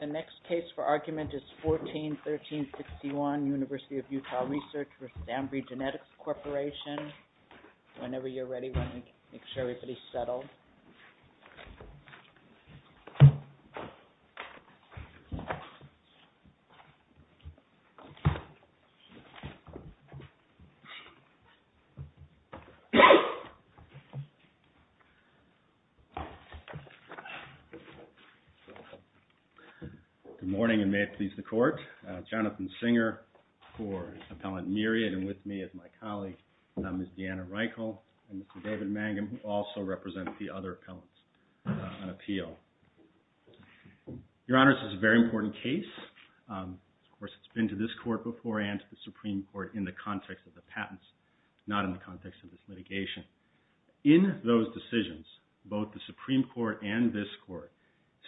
The next case for argument is 14-1361, University of Utah Research v. Ambry Genetics Corporation. Good morning and may it please the Court. Jonathan Singer for Appellant Myriad and with me is my colleague Ms. Deanna Reichel and Mr. David Mangum who also represent the other appellants on appeal. Your Honors, this is a very important case. Of course, it's been to this Court before and to the Supreme Court in the context of the patents, not in the context of this litigation. In those decisions, both the Supreme Court and this Court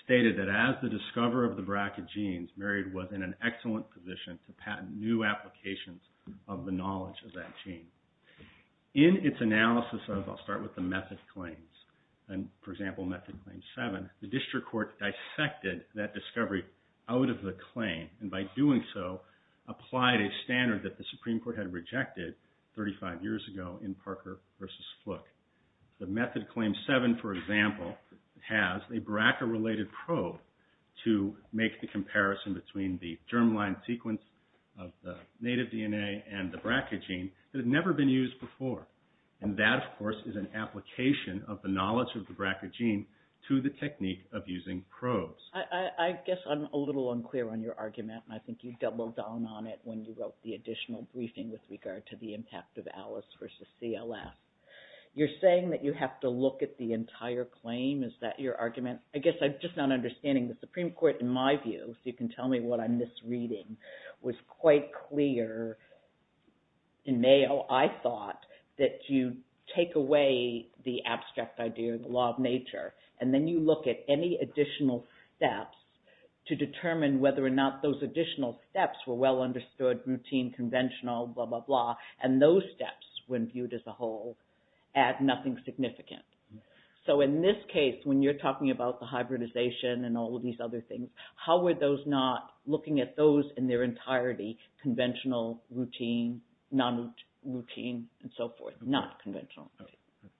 stated that as the discoverer of the BRCA genes, Myriad was in an excellent position to patent new applications of the knowledge of that gene. In its analysis of, I'll start with the method claims, for example, Method Claim 7, the District Court dissected that discovery out of the claim and by doing so, applied a standard that the Supreme Court had rejected 35 years ago in Parker v. Fluke. The Method Claim 7, for example, has a BRCA-related probe to make the comparison between the germline sequence of the native DNA and the BRCA gene that had never been used before. And that, of course, is an application of the knowledge of the BRCA gene to the technique of using probes. I guess I'm a little unclear on your argument and I think you doubled down on it when you wrote the additional briefing with regard to the impact of ALICE v. CLF. You're saying that you have to look at the entire claim? Is that your argument? I guess I'm just not understanding the Supreme Court, in my view, so you can tell me what I'm misreading, was quite clear in Mayo, I thought, that you take away the abstract idea, the law of nature, and then you look at any additional steps to determine whether or not those additional steps were well understood, routine, conventional, blah, blah, blah, and those steps, when viewed as a whole, add nothing significant. So in this case, when you're talking about the hybridization and all of these other things, how were those not looking at those in their entirety, conventional, routine, non-routine, and so forth, not conventional? Let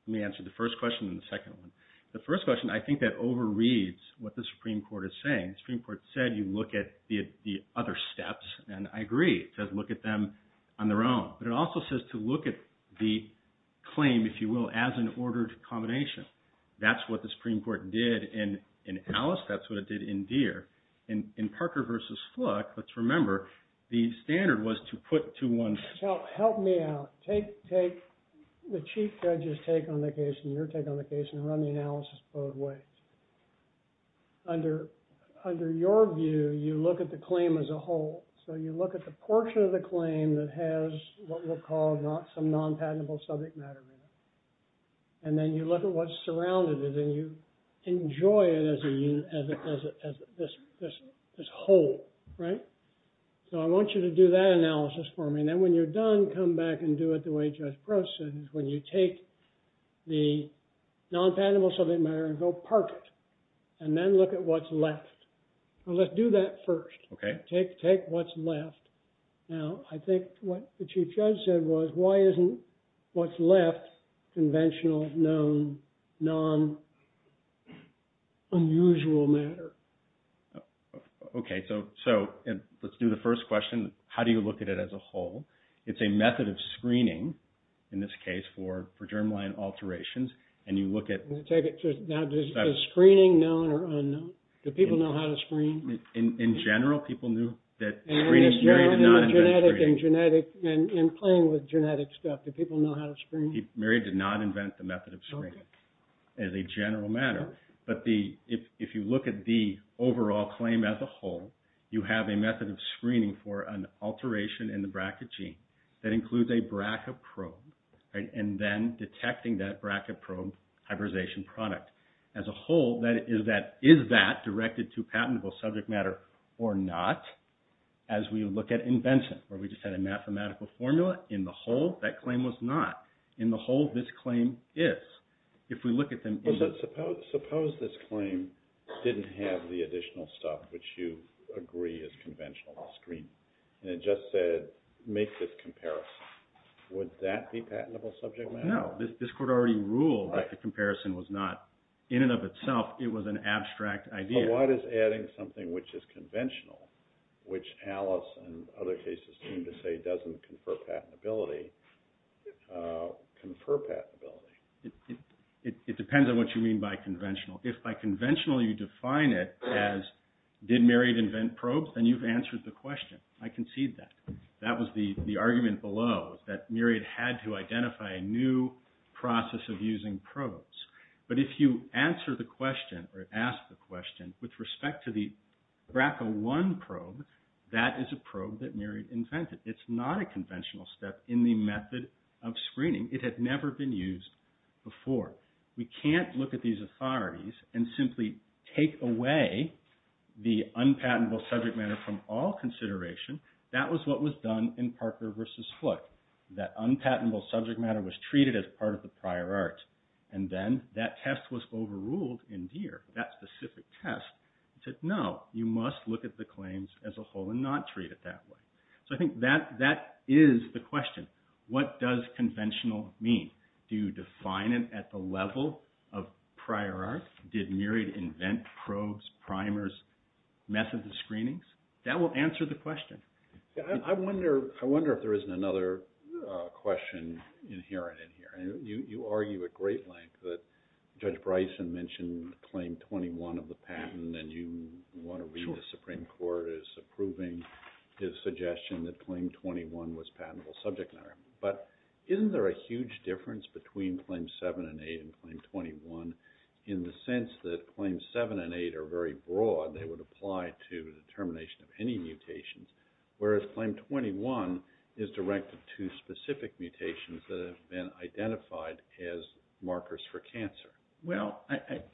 me answer the first question and the second one. The first question, I think that overreads what the Supreme Court is saying. The Supreme Court said you look at the other steps, and I agree, it says look at them on their own, but it also says to look at the claim, if you will, as an ordered combination. That's what the Supreme Court did in Ellis, that's what it did in Deere. In Parker v. Fluke, let's remember, the standard was to put to one's... Help me out. Take the Chief Judge's take on the case, and your take on the case, and run the analysis both ways. Under your view, you look at the claim as a whole, so you look at the portion of the claim that has what we'll call some non-patentable subject matter in it, and then you look at what's surrounded it, and you enjoy it as this whole. So I want you to do that analysis for me, and then when you're done, come back and do it the way Judge Gross said, when you take the non-patentable subject matter and go park it, and then look at what's left. Let's do that first. Take what's left. Now, I think what the Chief Judge said was, why isn't what's left conventional, known, non-unusual matter? Okay, so let's do the first question. How do you look at it as a whole? It's a method of screening, in this case, for germline alterations, and you look at... Now, is screening known or unknown? Do people know how to screen? In general, people knew that screening... And in playing with genetic stuff, do people know how to screen? Mary did not invent the method of screening, as a general matter. But if you look at the overall claim as a whole, you have a method of screening for an alteration in the bracket gene that includes a bracket probe, and then detecting that bracket probe hybridization product. As a whole, is that directed to patentable subject matter or not? As we look at invention, where we just had a mathematical formula, in the whole, that claim was not. In the whole, this claim is. If we look at them in... Suppose this claim didn't have the additional stuff, which you agree is conventional screening. And it just said, make this comparison. Would that be patentable subject matter? No. This court already ruled that the comparison was not, in and of itself, it was an abstract idea. But why does adding something which is conventional, which Alice and other cases seem to say doesn't confer patentability, confer patentability? It depends on what you mean by conventional. If by conventional, you define it as, did Myriad invent probes? Then you've answered the question. I concede that. That was the argument below, that Myriad had to identify a new process of using probes. But if you answer the question or ask the question with respect to the BRCA1 probe, that is a probe that Myriad invented. It's not a conventional step in the method of screening. It had never been used before. We can't look at these authorities and simply take away the unpatentable subject matter from all consideration. That was what was done in Parker v. Flick. That unpatentable subject matter was treated as part of the prior art. And then that test was overruled in Deere, that specific test. It said, no, you must look at the claims as a whole and not treat it that way. So I think that is the question. What does conventional mean? Do you define it at the level of prior art? Did Myriad invent probes, primers, methods of screenings? That will answer the question. I wonder if there isn't another question inherent in here. You argue at great length that Judge Bryson mentioned Claim 21 of the patent and you want to read the Supreme Court as approving his suggestion that Claim 21 was patentable subject matter. But isn't there a huge difference between Claim 7 and 8 and Claim 21 in the sense that Claims 7 and 8 are very broad and they would apply to the termination of any mutations, whereas Claim 21 is directed to specific mutations that have been identified as markers for cancer? Well,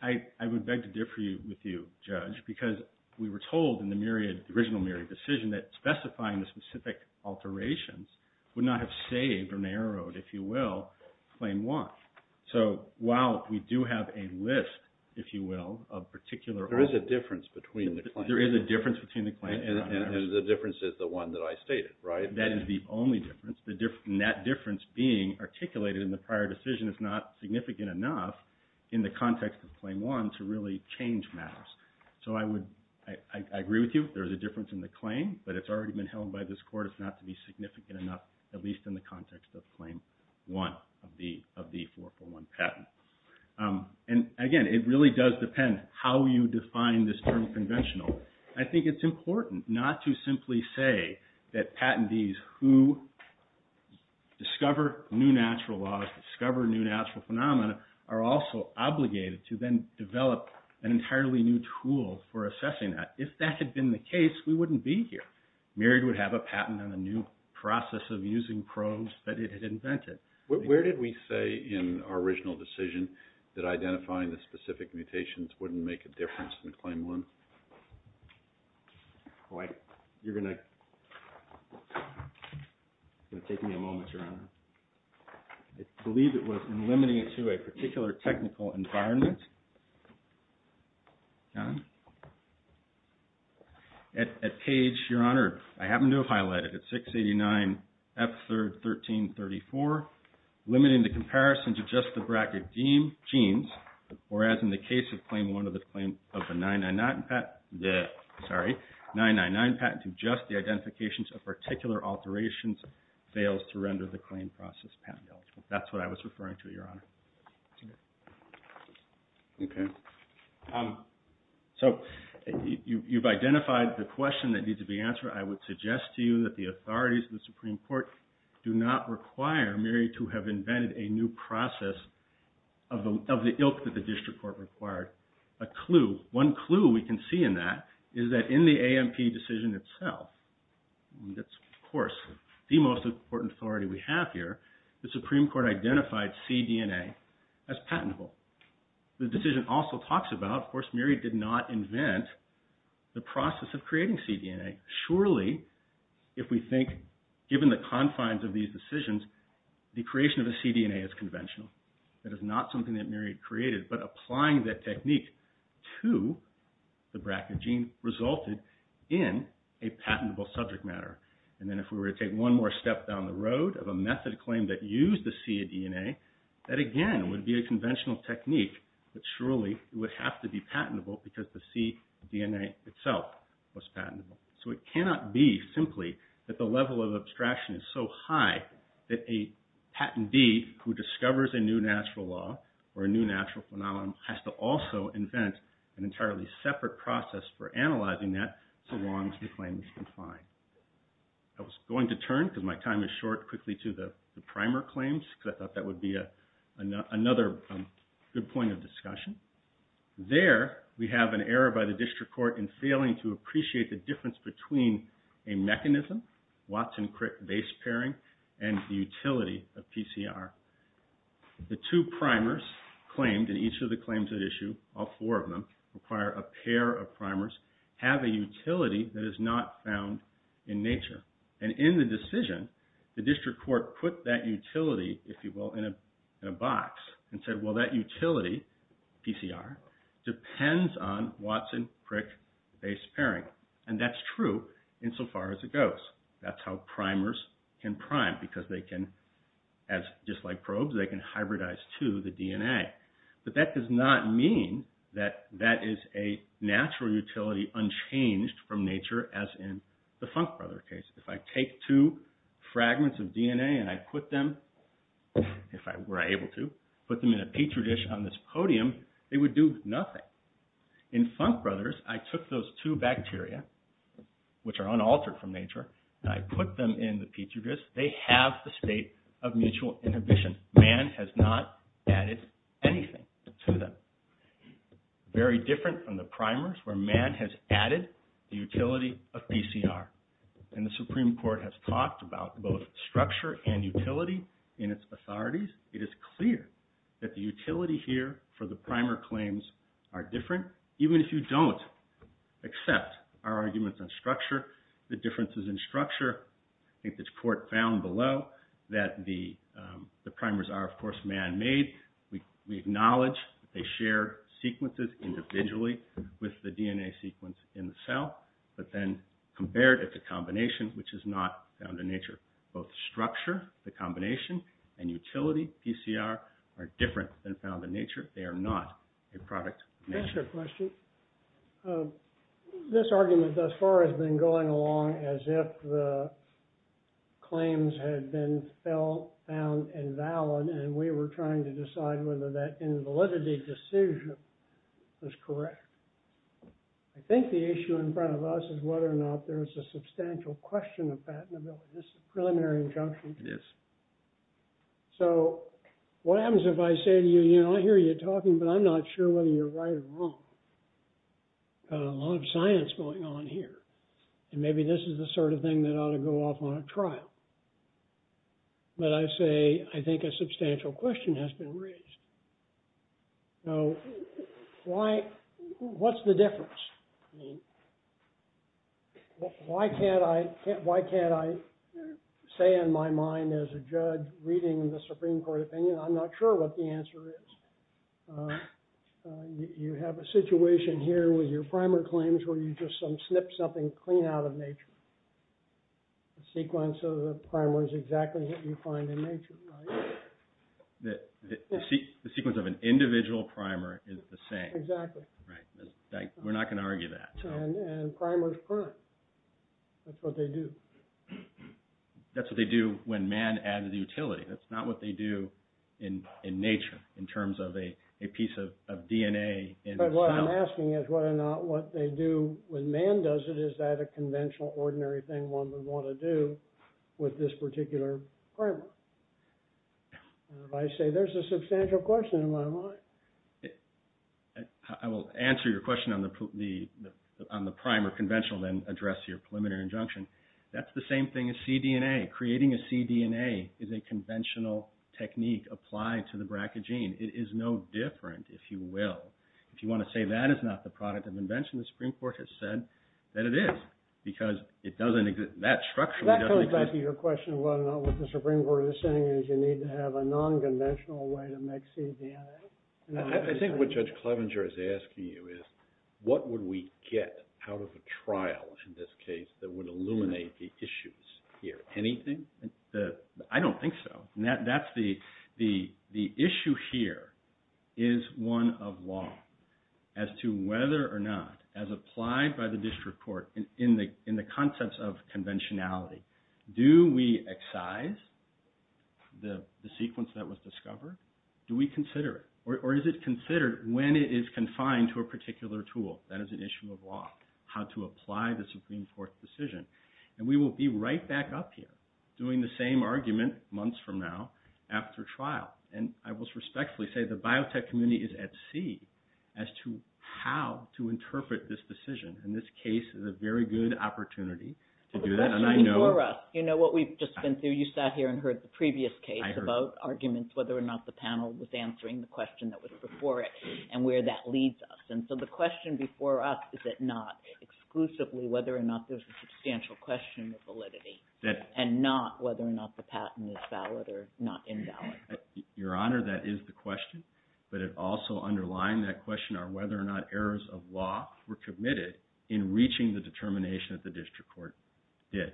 I would beg to differ with you, Judge, because we were told in the original Myriad decision that specifying the specific alterations would not have saved or narrowed, if you will, Claim 1. So while we do have a list, if you will, of particular... There is a difference between the claims. There is a difference between the claims. And the difference is the one that I stated, right? That is the only difference. That difference being articulated in the prior decision is not significant enough in the context of Claim 1 to really change matters. So I agree with you, there is a difference in the claim, but it's already been held by this Court as not to be significant enough, at least in the context of Claim 1 of the 441 patent. And again, it really does depend how you define this term conventional. I think it's important not to simply say that patentees who discover new natural laws, discover new natural phenomena, are also obligated to then develop an entirely new tool for assessing that. If that had been the case, we wouldn't be here. Myriad would have a patent on a new process of using probes that it had invented. Where did we say in our original decision that identifying the specific mutations wouldn't make a difference in Claim 1? You're going to take me a moment, Your Honor. I believe it was in limiting it to a particular technical environment. At page, Your Honor, I happen to have highlighted it, 689F31334, limiting the comparison to just the bracket genes, whereas in the case of Claim 1 of the 999 patent, to just the identifications of particular alterations fails to render the difference. So you've identified the question that needs to be answered. I would suggest to you that the authorities of the Supreme Court do not require Myriad to have invented a new process of the ilk that the District Court required. A clue, one clue we can see in that is that in the AMP decision itself, that's of course the most important authority we have here, the Supreme Court identified cDNA as patentable. The decision also talks about, of course, Myriad did not invent the process of creating cDNA. Surely, if we think, given the confines of these decisions, the creation of a cDNA is conventional. That is not something that Myriad created, but applying that technique to the bracket gene resulted in a patentable subject matter. Then if we were to take one more step down the road of a method of claim that used the cDNA, that again would be a conventional technique, but surely it would have to be patentable because the cDNA itself was patentable. So it cannot be simply that the level of abstraction is so high that a patentee who discovers a new natural law or a new natural phenomenon has to also invent an entirely separate process for analyzing that so long as the claim is unifying. I was going to turn, because my time is short, quickly to the primer claims, because I thought that would be another good point of discussion. There, we have an error by the District Court in failing to appreciate the difference between a mechanism, Watson-Crick base pairing, and the utility of PCR. The two primers claimed in each of the claims at issue, all four of them require a pair of primers, have a utility that is not found in nature. In the decision, the District Court put that utility, if you will, in a box and said, well, that utility, PCR, depends on Watson-Crick base pairing. That's true insofar as it goes. That's how primers can prime because they can, just like probes, they can hybridize to the DNA. But that does not mean that that is a natural utility unchanged from nature as in the Funk Brothers case. If I take two fragments of DNA and I put them, if I were able to, put them in a petri dish on this podium, they would do nothing. In Funk Brothers, I took those two bacteria, which are unaltered from nature, and I put them in the petri dish. They have the state of mutual inhibition. Mann has not added anything to them. Very different from the primers where Mann has added the utility of PCR. And the Supreme Court has talked about both structure and utility in its authorities. It is clear that the utility here for the primer claims are different. Even if you don't accept our arguments on structure, the differences in structure, I think the court found below, that the primers are, of course, man-made. We acknowledge that they share sequences individually with the DNA sequence in the cell, but then compared at the combination, which is not found in nature. Both structure, the combination, and utility, PCR, are different than found in nature. So, the power has been going along as if the claims had been found invalid, and we were trying to decide whether that invalidity decision was correct. I think the issue in front of us is whether or not there is a substantial question of patentability. This is a preliminary injunction. So, what happens if I say to you, you know, I hear you talking, but I'm not sure whether you're right or wrong. A lot of science going on here, and maybe this is the sort of thing that ought to go off on a trial. But I say, I think a substantial question has been raised. So, why, what's the difference? I mean, why can't I, why can't I say in my mind as a judge reading the Supreme Court opinion, I'm not sure what the answer is. You have a situation here with your primer claims where you just snipped something clean out of nature. The sequence of the primer is exactly what you find in nature, right? The sequence of an individual primer is the same. Exactly. Right. We're not going to argue that. And primers burn. That's what they do. That's what they do when man added the utility. That's not what they do in nature in terms of a piece of DNA in the cell. But what I'm asking is whether or not what they do when man does it, is that a conventional ordinary thing one would want to do with this particular primer? And if I say there's a substantial question in my mind. I will answer your question on the primer conventional then address your preliminary injunction. That's the same thing as cDNA. Creating a cDNA is a conventional technique applied to the BRCA gene. It is no different, if you will. If you want to say that is not the product of invention, the Supreme Court has said that it is. Because it doesn't exist. That structurally doesn't exist. That comes back to your question of whether or not what the Supreme Court is saying is you need to have a non-conventional way to make cDNA. I think what Judge Clevenger is asking you is what would we get out of a trial in this case that would illuminate the issues here? Anything? I don't think so. The issue here is one of law. As to whether or not, as applied by the district court in the concepts of conventionality, do we excise the sequence that was discovered? Do we consider it? Or is it considered when it is confined to a particular tool? That is an issue of law. How to apply the Supreme Court's decision. We will be right back up here doing the same argument months from now after trial. I will respectfully say the biotech community is at sea as to how to interpret this decision. This case is a very good opportunity to do that. The question before us. You know what we have just been through. You sat here and heard the previous case about arguments whether or not the panel was answering the question that was before it and where that leads us. The question before us is it not exclusively whether or not there is a substantial question of validity and not whether or not the patent is valid or not invalid. Your Honor, that is the question, but it also underlined that question on whether or not errors of law were committed in reaching the determination that the district court did.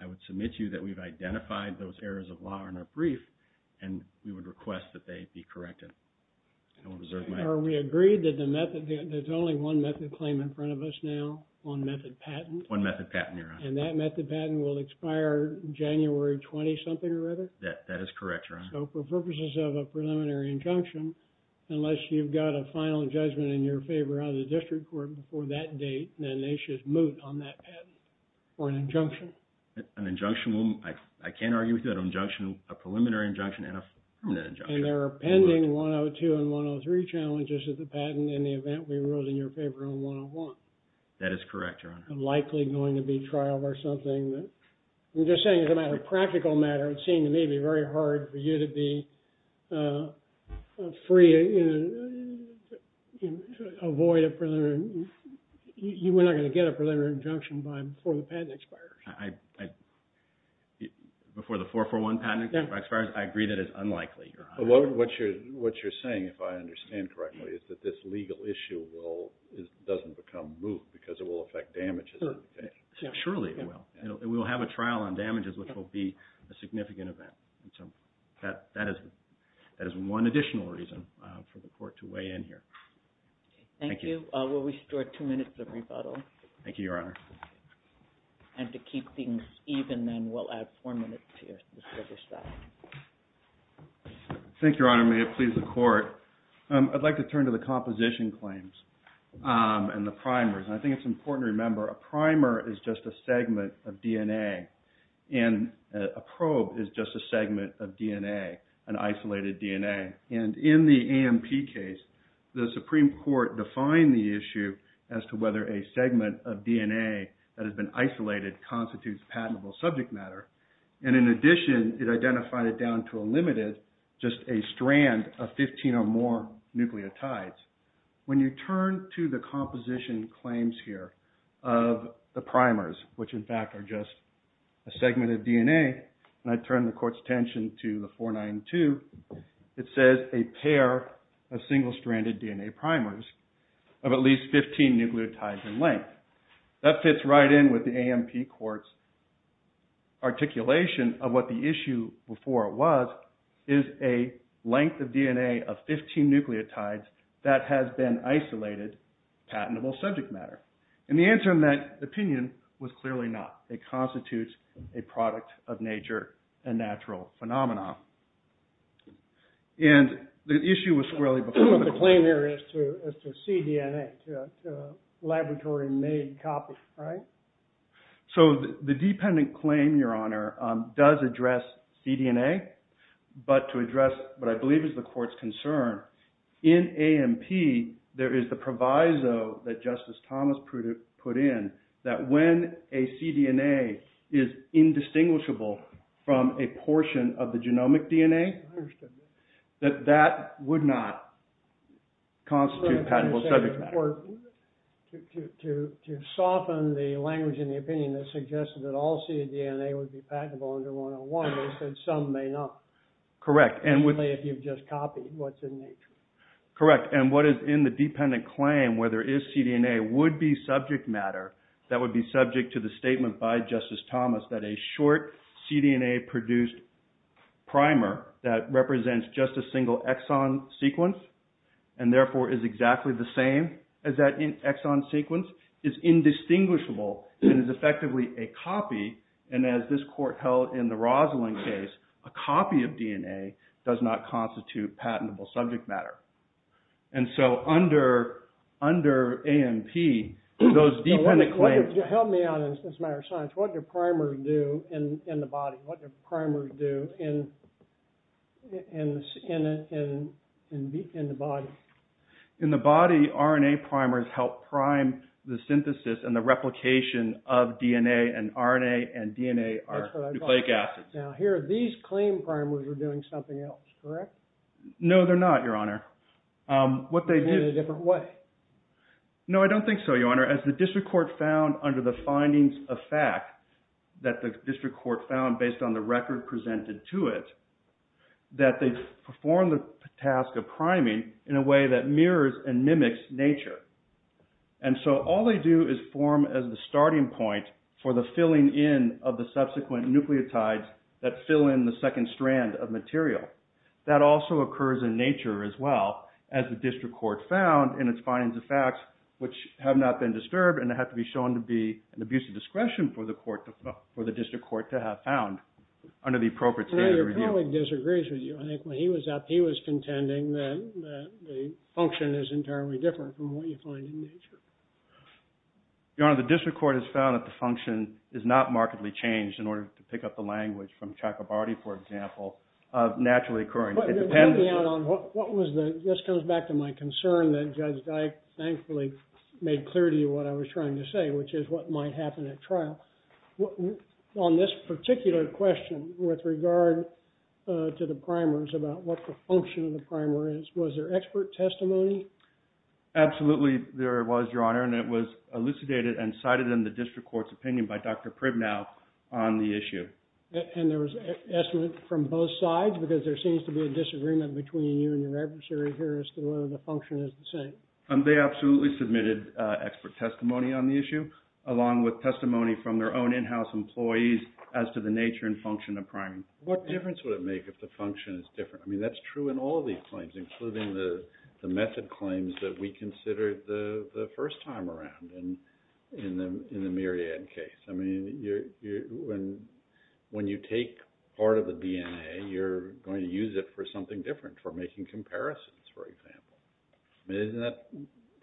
I would submit to you that we have identified those errors of law in our brief and we would request that they be corrected. Are we agreed that there is only one method claim in front of us now? One method patent? One method patent, Your Honor. And that method patent will expire January 20-something or other? That is correct, Your Honor. So for purposes of a preliminary injunction, unless you have got a final judgment in your favor on the district court before that date, then they should moot on that patent for an injunction? An injunction, I cannot argue with you on an injunction, a preliminary injunction and a permanent injunction. And there are pending 102 and 103 challenges of the patent in the event we rule it in your favor on 101? That is correct, Your Honor. And likely going to be trial or something that, I am just saying as a matter of practical matter, it seemed to me to be very hard for you to be free to avoid a preliminary, you were not going to get a preliminary injunction before the patent expires. Before the 441 patent expires, I agree that it is unlikely, Your Honor. What you are saying, if I understand correctly, is that this legal issue does not become moot because it will affect damages? Surely it will. We will have a trial on damages, which will be a significant event. That is one additional reason for the court to weigh in here. Thank you. Thank you. We will restore two minutes of rebuttal. Thank you, Your Honor. And to keep things even then, we will add four minutes here to finish that. Thank you, Your Honor. May it please the Court. I would like to turn to the composition claims and the primers. I think it is important to remember a primer is just a segment of DNA and a probe is just a segment of DNA, an isolated DNA. And in the AMP case, the Supreme Court defined the issue as to whether a segment of DNA that has been isolated constitutes patentable subject matter. And in addition, it identified it down to a limited, just a strand of 15 or more nucleotides. When you turn to the composition claims here of the primers, which in fact are just a segment of DNA, and I turn the Court's attention to the 492, it says a pair of single-stranded DNA primers of at least 15 nucleotides in length. That fits right in with the AMP Court's articulation of what the issue before was, is a length of DNA of 15 nucleotides that has been isolated, patentable subject matter. And the answer in that opinion was clearly not. It constitutes a product of nature and natural phenomena. And the issue was squarely before the claim here as to cDNA, laboratory-made copy, right? So the dependent claim, Your Honor, does address cDNA. But to address what I believe is the Court's concern, in AMP, there is the proviso that if a cDNA is indistinguishable from a portion of the genomic DNA, that that would not constitute patentable subject matter. To soften the language in the opinion that suggested that all cDNA would be patentable under 101, they said some may not. Correct. Only if you've just copied what's in nature. Correct. And what is in the dependent claim where there is cDNA would be subject matter that would be subject to the statement by Justice Thomas that a short cDNA-produced primer that represents just a single exon sequence and therefore is exactly the same as that exon sequence is indistinguishable and is effectively a copy. And as this Court held in the Rosalind case, a copy of DNA does not constitute patentable subject matter. And so under AMP, those dependent claims... Help me out on this matter of science. What do primers do in the body? What do primers do in the body? In the body, RNA primers help prime the synthesis and the replication of DNA, and RNA and DNA are nucleic acids. That's what I thought. Now here, these claim primers are doing something else, correct? No, they're not, Your Honor. What they do... In a different way? No, I don't think so, Your Honor. As the District Court found under the findings of fact that the District Court found based on the record presented to it, that they perform the task of priming in a way that mirrors and mimics nature. And so all they do is form as the starting point for the filling in of the subsequent nucleotides that fill in the second strand of material. That also occurs in nature as well, as the District Court found in its findings of facts which have not been disturbed and have to be shown to be an abuse of discretion for the District Court to have found under the appropriate standard review. I think when he was up, he was contending that the function is entirely different from what you find in nature. Your Honor, the District Court has found that the function is not markedly changed in order to pick up the language from Chakrabarty, for example, of naturally occurring. It depends... What was the... This comes back to my concern that Judge Dyke thankfully made clear to you what I was trying to say, which is what might happen at trial. On this particular question with regard to the primers, about what the function of the primer is, was there expert testimony? Absolutely, there was, Your Honor, and it was elucidated and cited in the District Court's report by Dr. Pribnow on the issue. And there was estimate from both sides because there seems to be a disagreement between you and your adversary here as to whether the function is the same. They absolutely submitted expert testimony on the issue, along with testimony from their own in-house employees as to the nature and function of primers. What difference would it make if the function is different? I mean, that's true in all of these claims, including the method claims that we considered the first time around in the Myriad case. I mean, when you take part of the DNA, you're going to use it for something different, for making comparisons, for example. Isn't that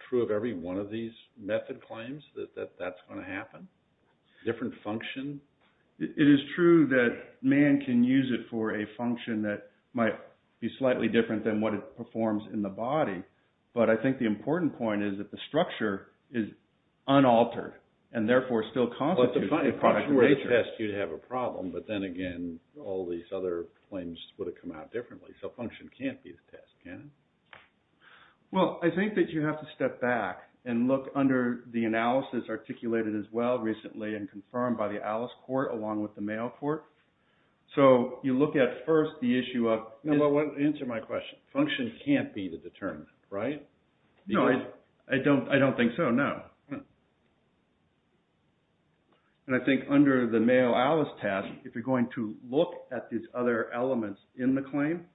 true of every one of these method claims, that that's going to happen? Different function? It is true that man can use it for a function that might be slightly different than what it performs in the body. But I think the important point is that the structure is unaltered and therefore still constitutes a product of nature. Well, if function were the test, you'd have a problem. But then again, all these other claims would have come out differently. So function can't be the test, can it? Well, I think that you have to step back and look under the analysis articulated as well recently and confirmed by the Alice Court along with the Mayo Court. So you look at first the issue of... Answer my question. Function can't be the determinant, right? No, I don't think so, no. And I think under the Mayo-Alice test, if you're going to look at these other elements in the claim,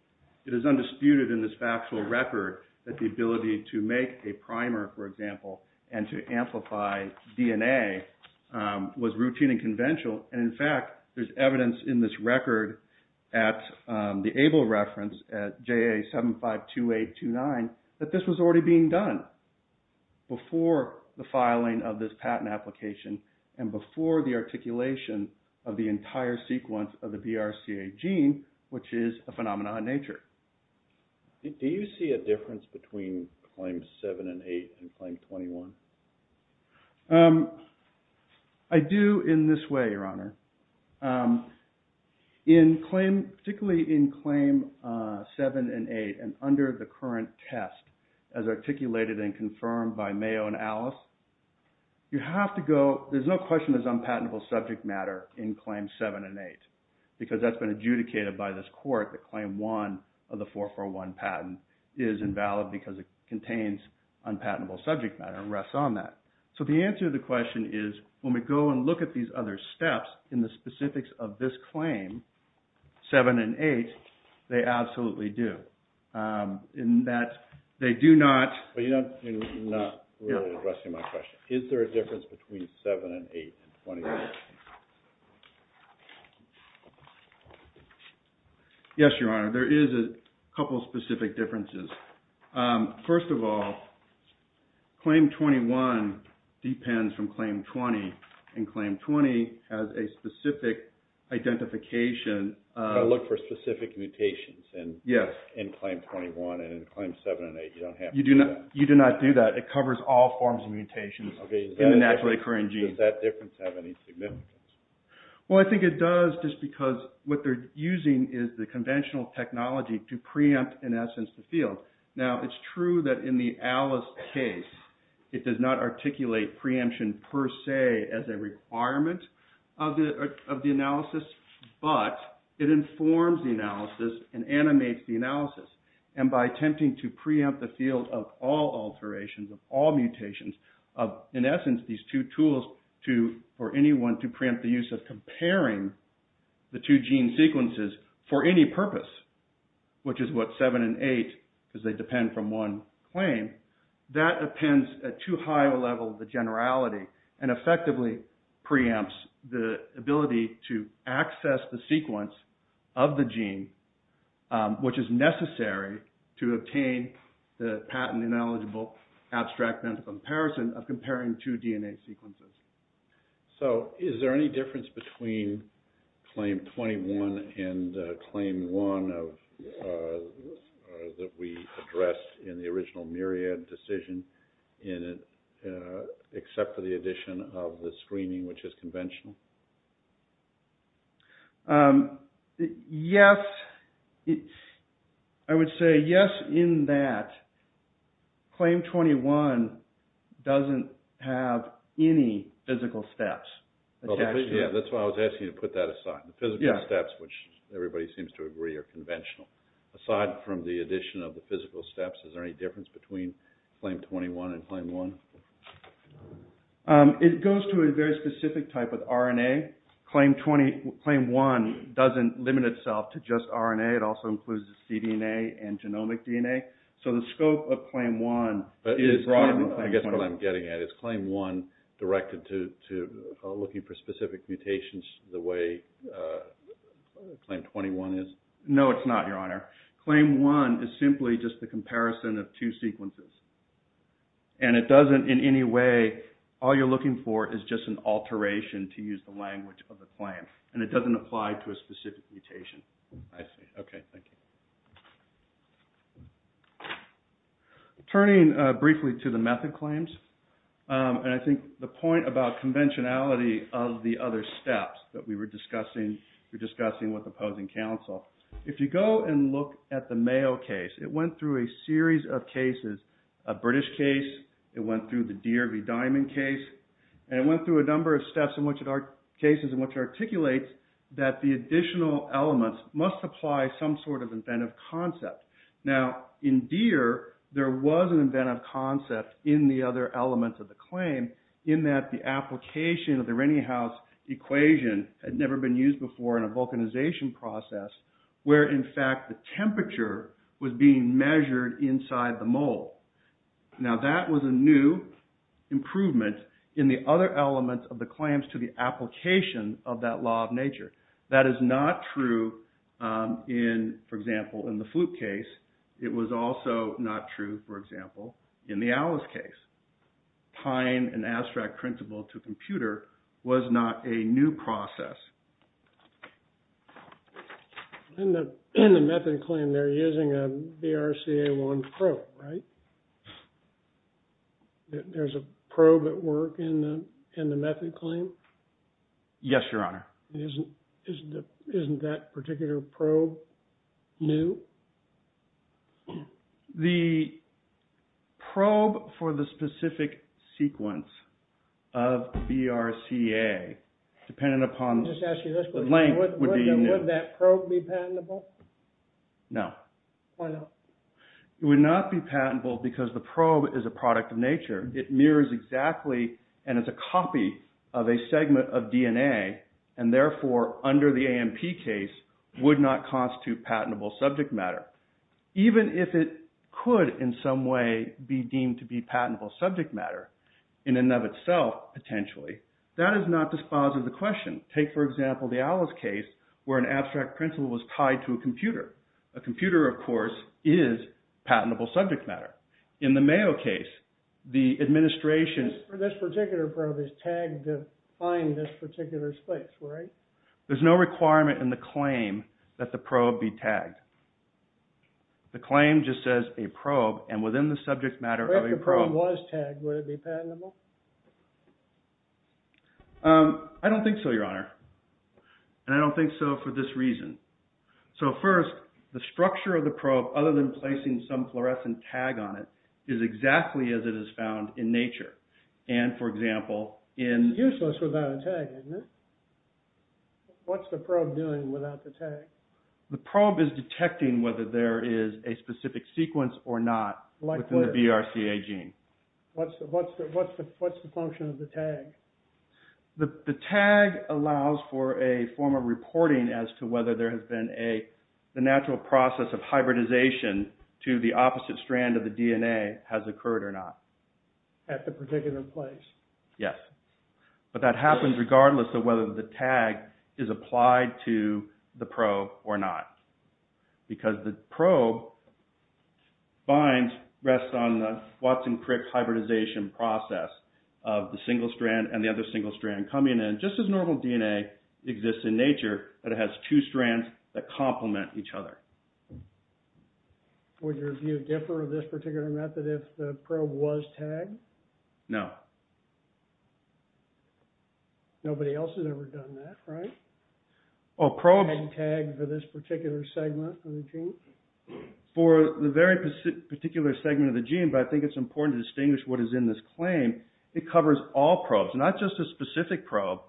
it is undisputed in this factual record that the ability to make a primer, for example, and to amplify DNA was routine and conventional. And in fact, there's evidence in this record at the ABLE reference at JA752829 that this was already being done before the filing of this patent application and before the articulation of the entire sequence of the BRCA gene, which is a phenomenon in nature. Do you see a difference between Claim 7 and 8 and Claim 21? I do in this way, Your Honor. In claim, particularly in Claim 7 and 8 and under the current test as articulated and confirmed by Mayo and Alice, you have to go... There's no question there's unpatentable subject matter in Claim 7 and 8 because that's been adjudicated by this court that Claim 1 of the 441 patent is invalid because it contains unpatentable subject matter and rests on that. So the answer to the question is when we go and look at these other steps in the specifics of this claim, 7 and 8, they absolutely do. In that they do not... But you're not really addressing my question. Is there a difference between 7 and 8 and 21? Yes, Your Honor. There is a couple of specific differences. First of all, Claim 21 depends from Claim 20 and Claim 20 has a specific identification... I look for specific mutations in Claim 21 and in Claim 7 and 8 you don't have to do that. You do not do that. It covers all forms of mutations in a naturally occurring gene. Does that difference have any significance? Well, I think it does just because what they're using is the conventional technology to preempt in essence the field. Now, it's true that in the Alice case, it does not articulate preemption per se as a requirement of the analysis, but it informs the analysis and animates the analysis. And by attempting to preempt the field of all alterations, of all mutations, of in essence these two tools for anyone to preempt the use of comparing the two gene sequences for any purpose, which is what 7 and 8, because they depend from one claim, that depends at too high a level of the generality and effectively preempts the ability to access the sequence of the gene, which is necessary to obtain the patent ineligible abstract mental comparison of comparing two DNA sequences. So is there any difference between Claim 21 and Claim 1 that we addressed in the original Myriad decision except for the addition of the screening, which is conventional? Yes, I would say yes in that Claim 21 doesn't have any physical steps. Yeah, that's why I was asking you to put that aside. The physical steps, which everybody seems to agree are conventional. Aside from the addition of the physical steps, is there any difference between Claim 21 and Claim 1? It goes to a very specific type of RNA. Claim 1 doesn't limit itself to just RNA. It also includes the cDNA and genomic DNA. So the scope of Claim 1 is broader than Claim 21. I guess what I'm getting at is Claim 1 directed to looking for specific mutations the way Claim 21 is? No, it's not, Your Honor. Claim 1 is simply just the comparison of two sequences. And it doesn't in any way, all you're looking for is just an alteration to use the language of the claim. And it doesn't apply to a specific mutation. I see. Okay, thank you. Turning briefly to the method claims, and I think the point about conventionality of the other steps that we were discussing with opposing counsel, if you go and look at the cases, a British case, it went through the Deere v. Diamond case, and it went through a number of cases in which it articulates that the additional elements must apply some sort of inventive concept. Now, in Deere, there was an inventive concept in the other elements of the claim, in that the application of the Renyhaus equation had never been used before in a vulcanization process where, in fact, the temperature was being measured inside the mold. Now, that was a new improvement in the other elements of the claims to the application of that law of nature. That is not true, for example, in the flute case. It was also not true, for example, in the Alice case. Tying an abstract principle to a computer was not a new process. In the method claim, they're using a BRCA1 probe, right? There's a probe at work in the method claim? Yes, Your Honor. Isn't that particular probe new? The probe for the specific sequence of BRCA, depending upon the length, would be new. Would that probe be patentable? No. Why not? It would not be patentable because the probe is a product of nature. It mirrors exactly and is a copy of a segment of DNA, and therefore, under the AMP case, would not constitute patentable subject matter. Even if it could, in some way, be deemed to be patentable subject matter, in and of itself, potentially, that is not to sponsor the question. Take, for example, the Alice case, where an abstract principle was tied to a computer. A computer, of course, is patentable subject matter. In the Mayo case, the administration... This particular probe is tagged to find this particular space, right? There's no requirement in the claim that the probe be tagged. The claim just says a probe, and within the subject matter of a probe... If the probe was tagged, would it be patentable? I don't think so, Your Honor. And I don't think so for this reason. So, first, the structure of the probe, other than placing some fluorescent tag on it, is exactly as it is found in nature. And, for example, in... It's useless without a tag, isn't it? What's the probe doing without the tag? The probe is detecting whether there is a specific sequence or not within the BRCA gene. What's the function of the tag? The tag allows for a form of reporting as to whether there has been a... The natural process of hybridization to the opposite strand of the DNA has occurred or not. At the particular place? Yes. But that happens regardless of whether the tag is applied to the probe or not. Because the probe binds, rests on the Watson-Crick hybridization process of the single strand and the other single strand coming in, just as normal DNA exists in nature, but it has two strands that complement each other. Would your view differ of this particular method if the probe was tagged? No. Nobody else has ever done that, right? Oh, probes... Hadn't tagged for this particular segment of the gene? For the very particular segment of the gene, but I think it's important to distinguish what is in this claim. It covers all probes, not just a specific probe,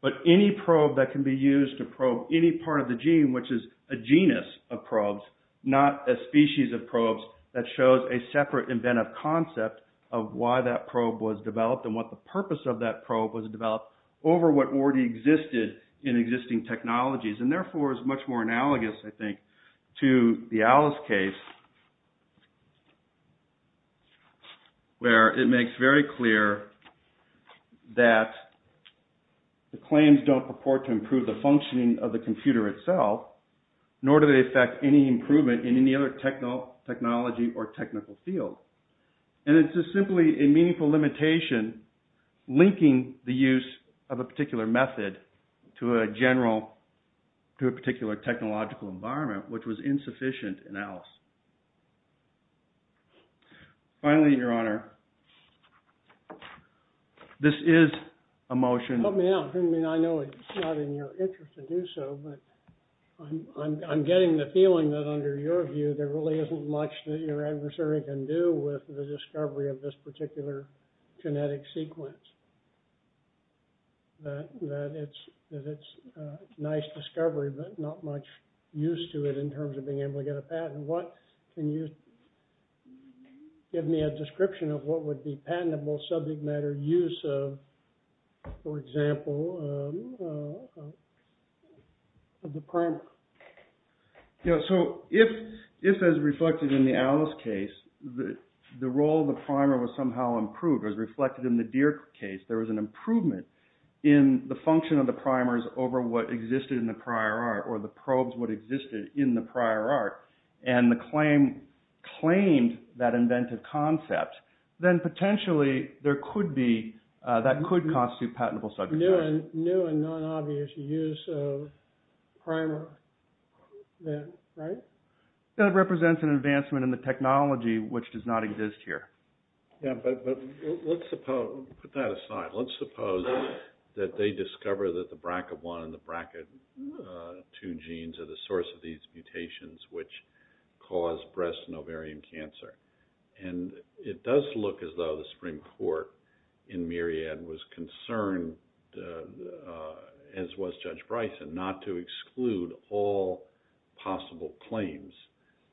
but any probe that can be used to probe any part of the gene, which is a genus of probes, not a species of probes that shows a separate inventive concept of why that probe was developed and what the purpose of that probe was developed over what already existed in existing technologies. And therefore, it's much more analogous, I think, to the Alice case, where it makes very clear that the claims don't purport to improve the functioning of the computer itself, nor do they affect any improvement in any other technology or technical field. And it's just simply a meaningful limitation linking the use of a particular method to a particular technological environment, which was insufficient in Alice. Finally, Your Honor, this is a motion... Help me out. I mean, I know it's not in your interest to do so, but I'm getting the feeling that under your view, there really isn't much that your adversary can do with the discovery of this particular genetic sequence. That it's a nice discovery, but not much use to it in terms of being able to get a patent. Can you give me a description of what would be patentable subject matter use of, for example, the primer? Yeah, so if, as reflected in the Alice case, the role of the primer was somehow improved, as reflected in the Deere case, there was an improvement in the function of the primers over what existed in the prior art or the probes what existed in the prior art, and the claim claimed that inventive concept, That could constitute patentable subject matter. New and non-obvious use of primer, right? That represents an advancement in the technology which does not exist here. Yeah, but let's suppose, put that aside, let's suppose that they discover that the BRCA1 and the BRCA2 genes are the source of these mutations which cause breast and ovarian cancer. And it does look as though the Supreme Court in Myriad was concerned, as was Judge Bryson, not to exclude all possible claims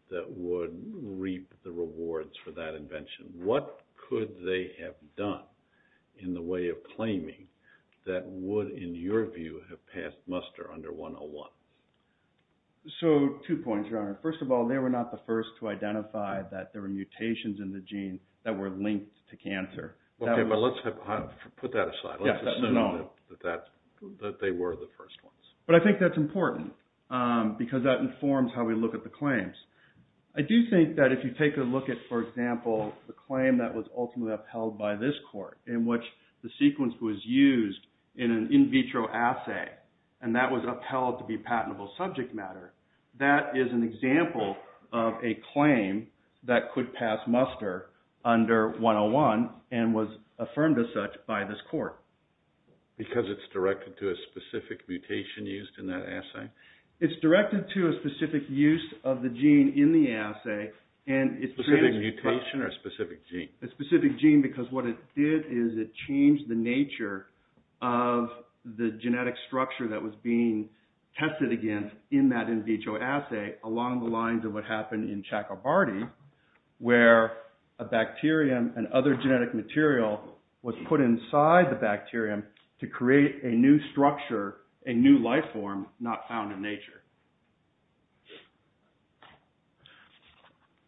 that would reap the rewards for that invention. What could they have done in the way of claiming that would, in your view, have passed muster under 101? So, two points, Your Honor. First of all, they were not the first to identify that there were mutations in the gene that were linked to cancer. Okay, but let's put that aside. Let's assume that they were the first ones. But I think that's important because that informs how we look at the claims. I do think that if you take a look at, for example, the claim that was ultimately upheld by this court in which the sequence was used in an in vitro assay, and that was upheld to be patentable subject matter, that is an example of a claim that could pass muster under 101 and was affirmed as such by this court. Because it's directed to a specific mutation used in that assay? It's directed to a specific use of the gene in the assay. A specific mutation or a specific gene? A specific gene because what it did is it changed the nature of the genetic structure that was being tested against in that in vitro assay along the lines of what happened in Chakrabarty where a bacterium and other genetic material was put inside the bacterium to create a new structure, a new life form not found in nature.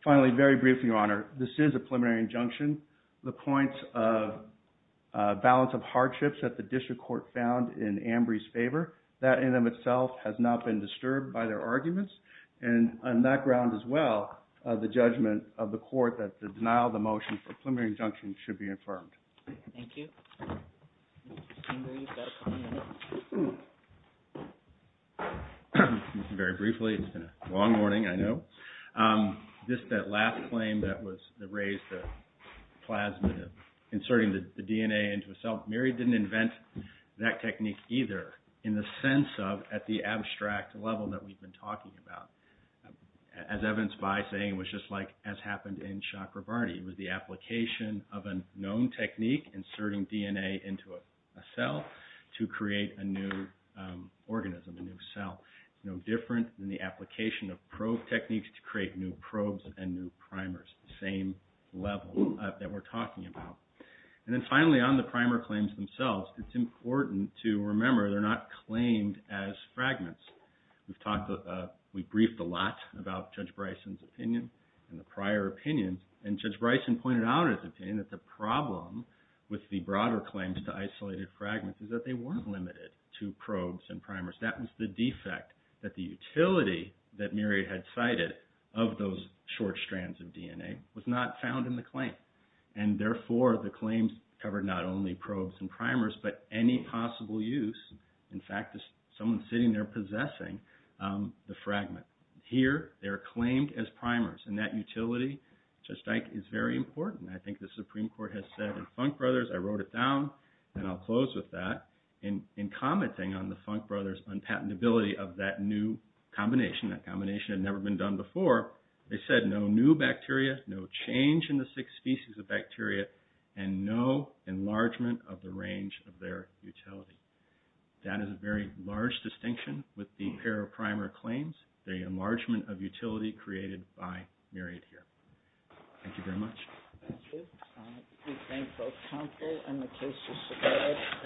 Finally, very briefly, Your Honor, this is a preliminary injunction. The points of balance of hardships that the district court found in Ambry's favor, that in and of itself has not been disturbed by their arguments. And on that ground as well, the judgment of the court that the denial of the motion for preliminary injunction should be affirmed. Thank you. Very briefly, it's been a long morning, I know. Just that last claim that raised the plasmid of inserting the DNA into a cell, Mary didn't invent that technique either in the sense of at the abstract level that we've been talking about. As evidenced by saying it was just like as happened in Chakrabarty. It was the application of a known technique, inserting DNA into a cell to create a new organism, a new cell. It's no different than the application of probe techniques to create new probes and new primers, the same level that we're talking about. And then finally, on the primer claims themselves, it's important to remember they're not claimed as fragments. We've briefed a lot about Judge Bryson's opinion and the prior opinions, and Judge Bryson pointed out in his opinion that the problem with the broader claims to isolated fragments is that they weren't limited to probes and primers. That was the defect, that the utility that Mary had cited of those short strands of DNA was not found in the claim. And therefore, the claims covered not only probes and primers, but any possible use, in fact, of someone sitting there possessing the fragment. Here, they're claimed as primers, and that utility, Judge Dyke, is very important. I think the Supreme Court has said in Funk Brothers, I wrote it down, and I'll close with that, in commenting on the Funk Brothers' unpatentability of that new combination, that combination had never been done before, they said no new bacteria, no change in the six species of bacteria, and no enlargement of the range of their utility. That is a very large distinction with the pair of primer claims, the enlargement of utility created by Myriad here. Thank you very much. Thank you. We thank both counsel and the cases submitted.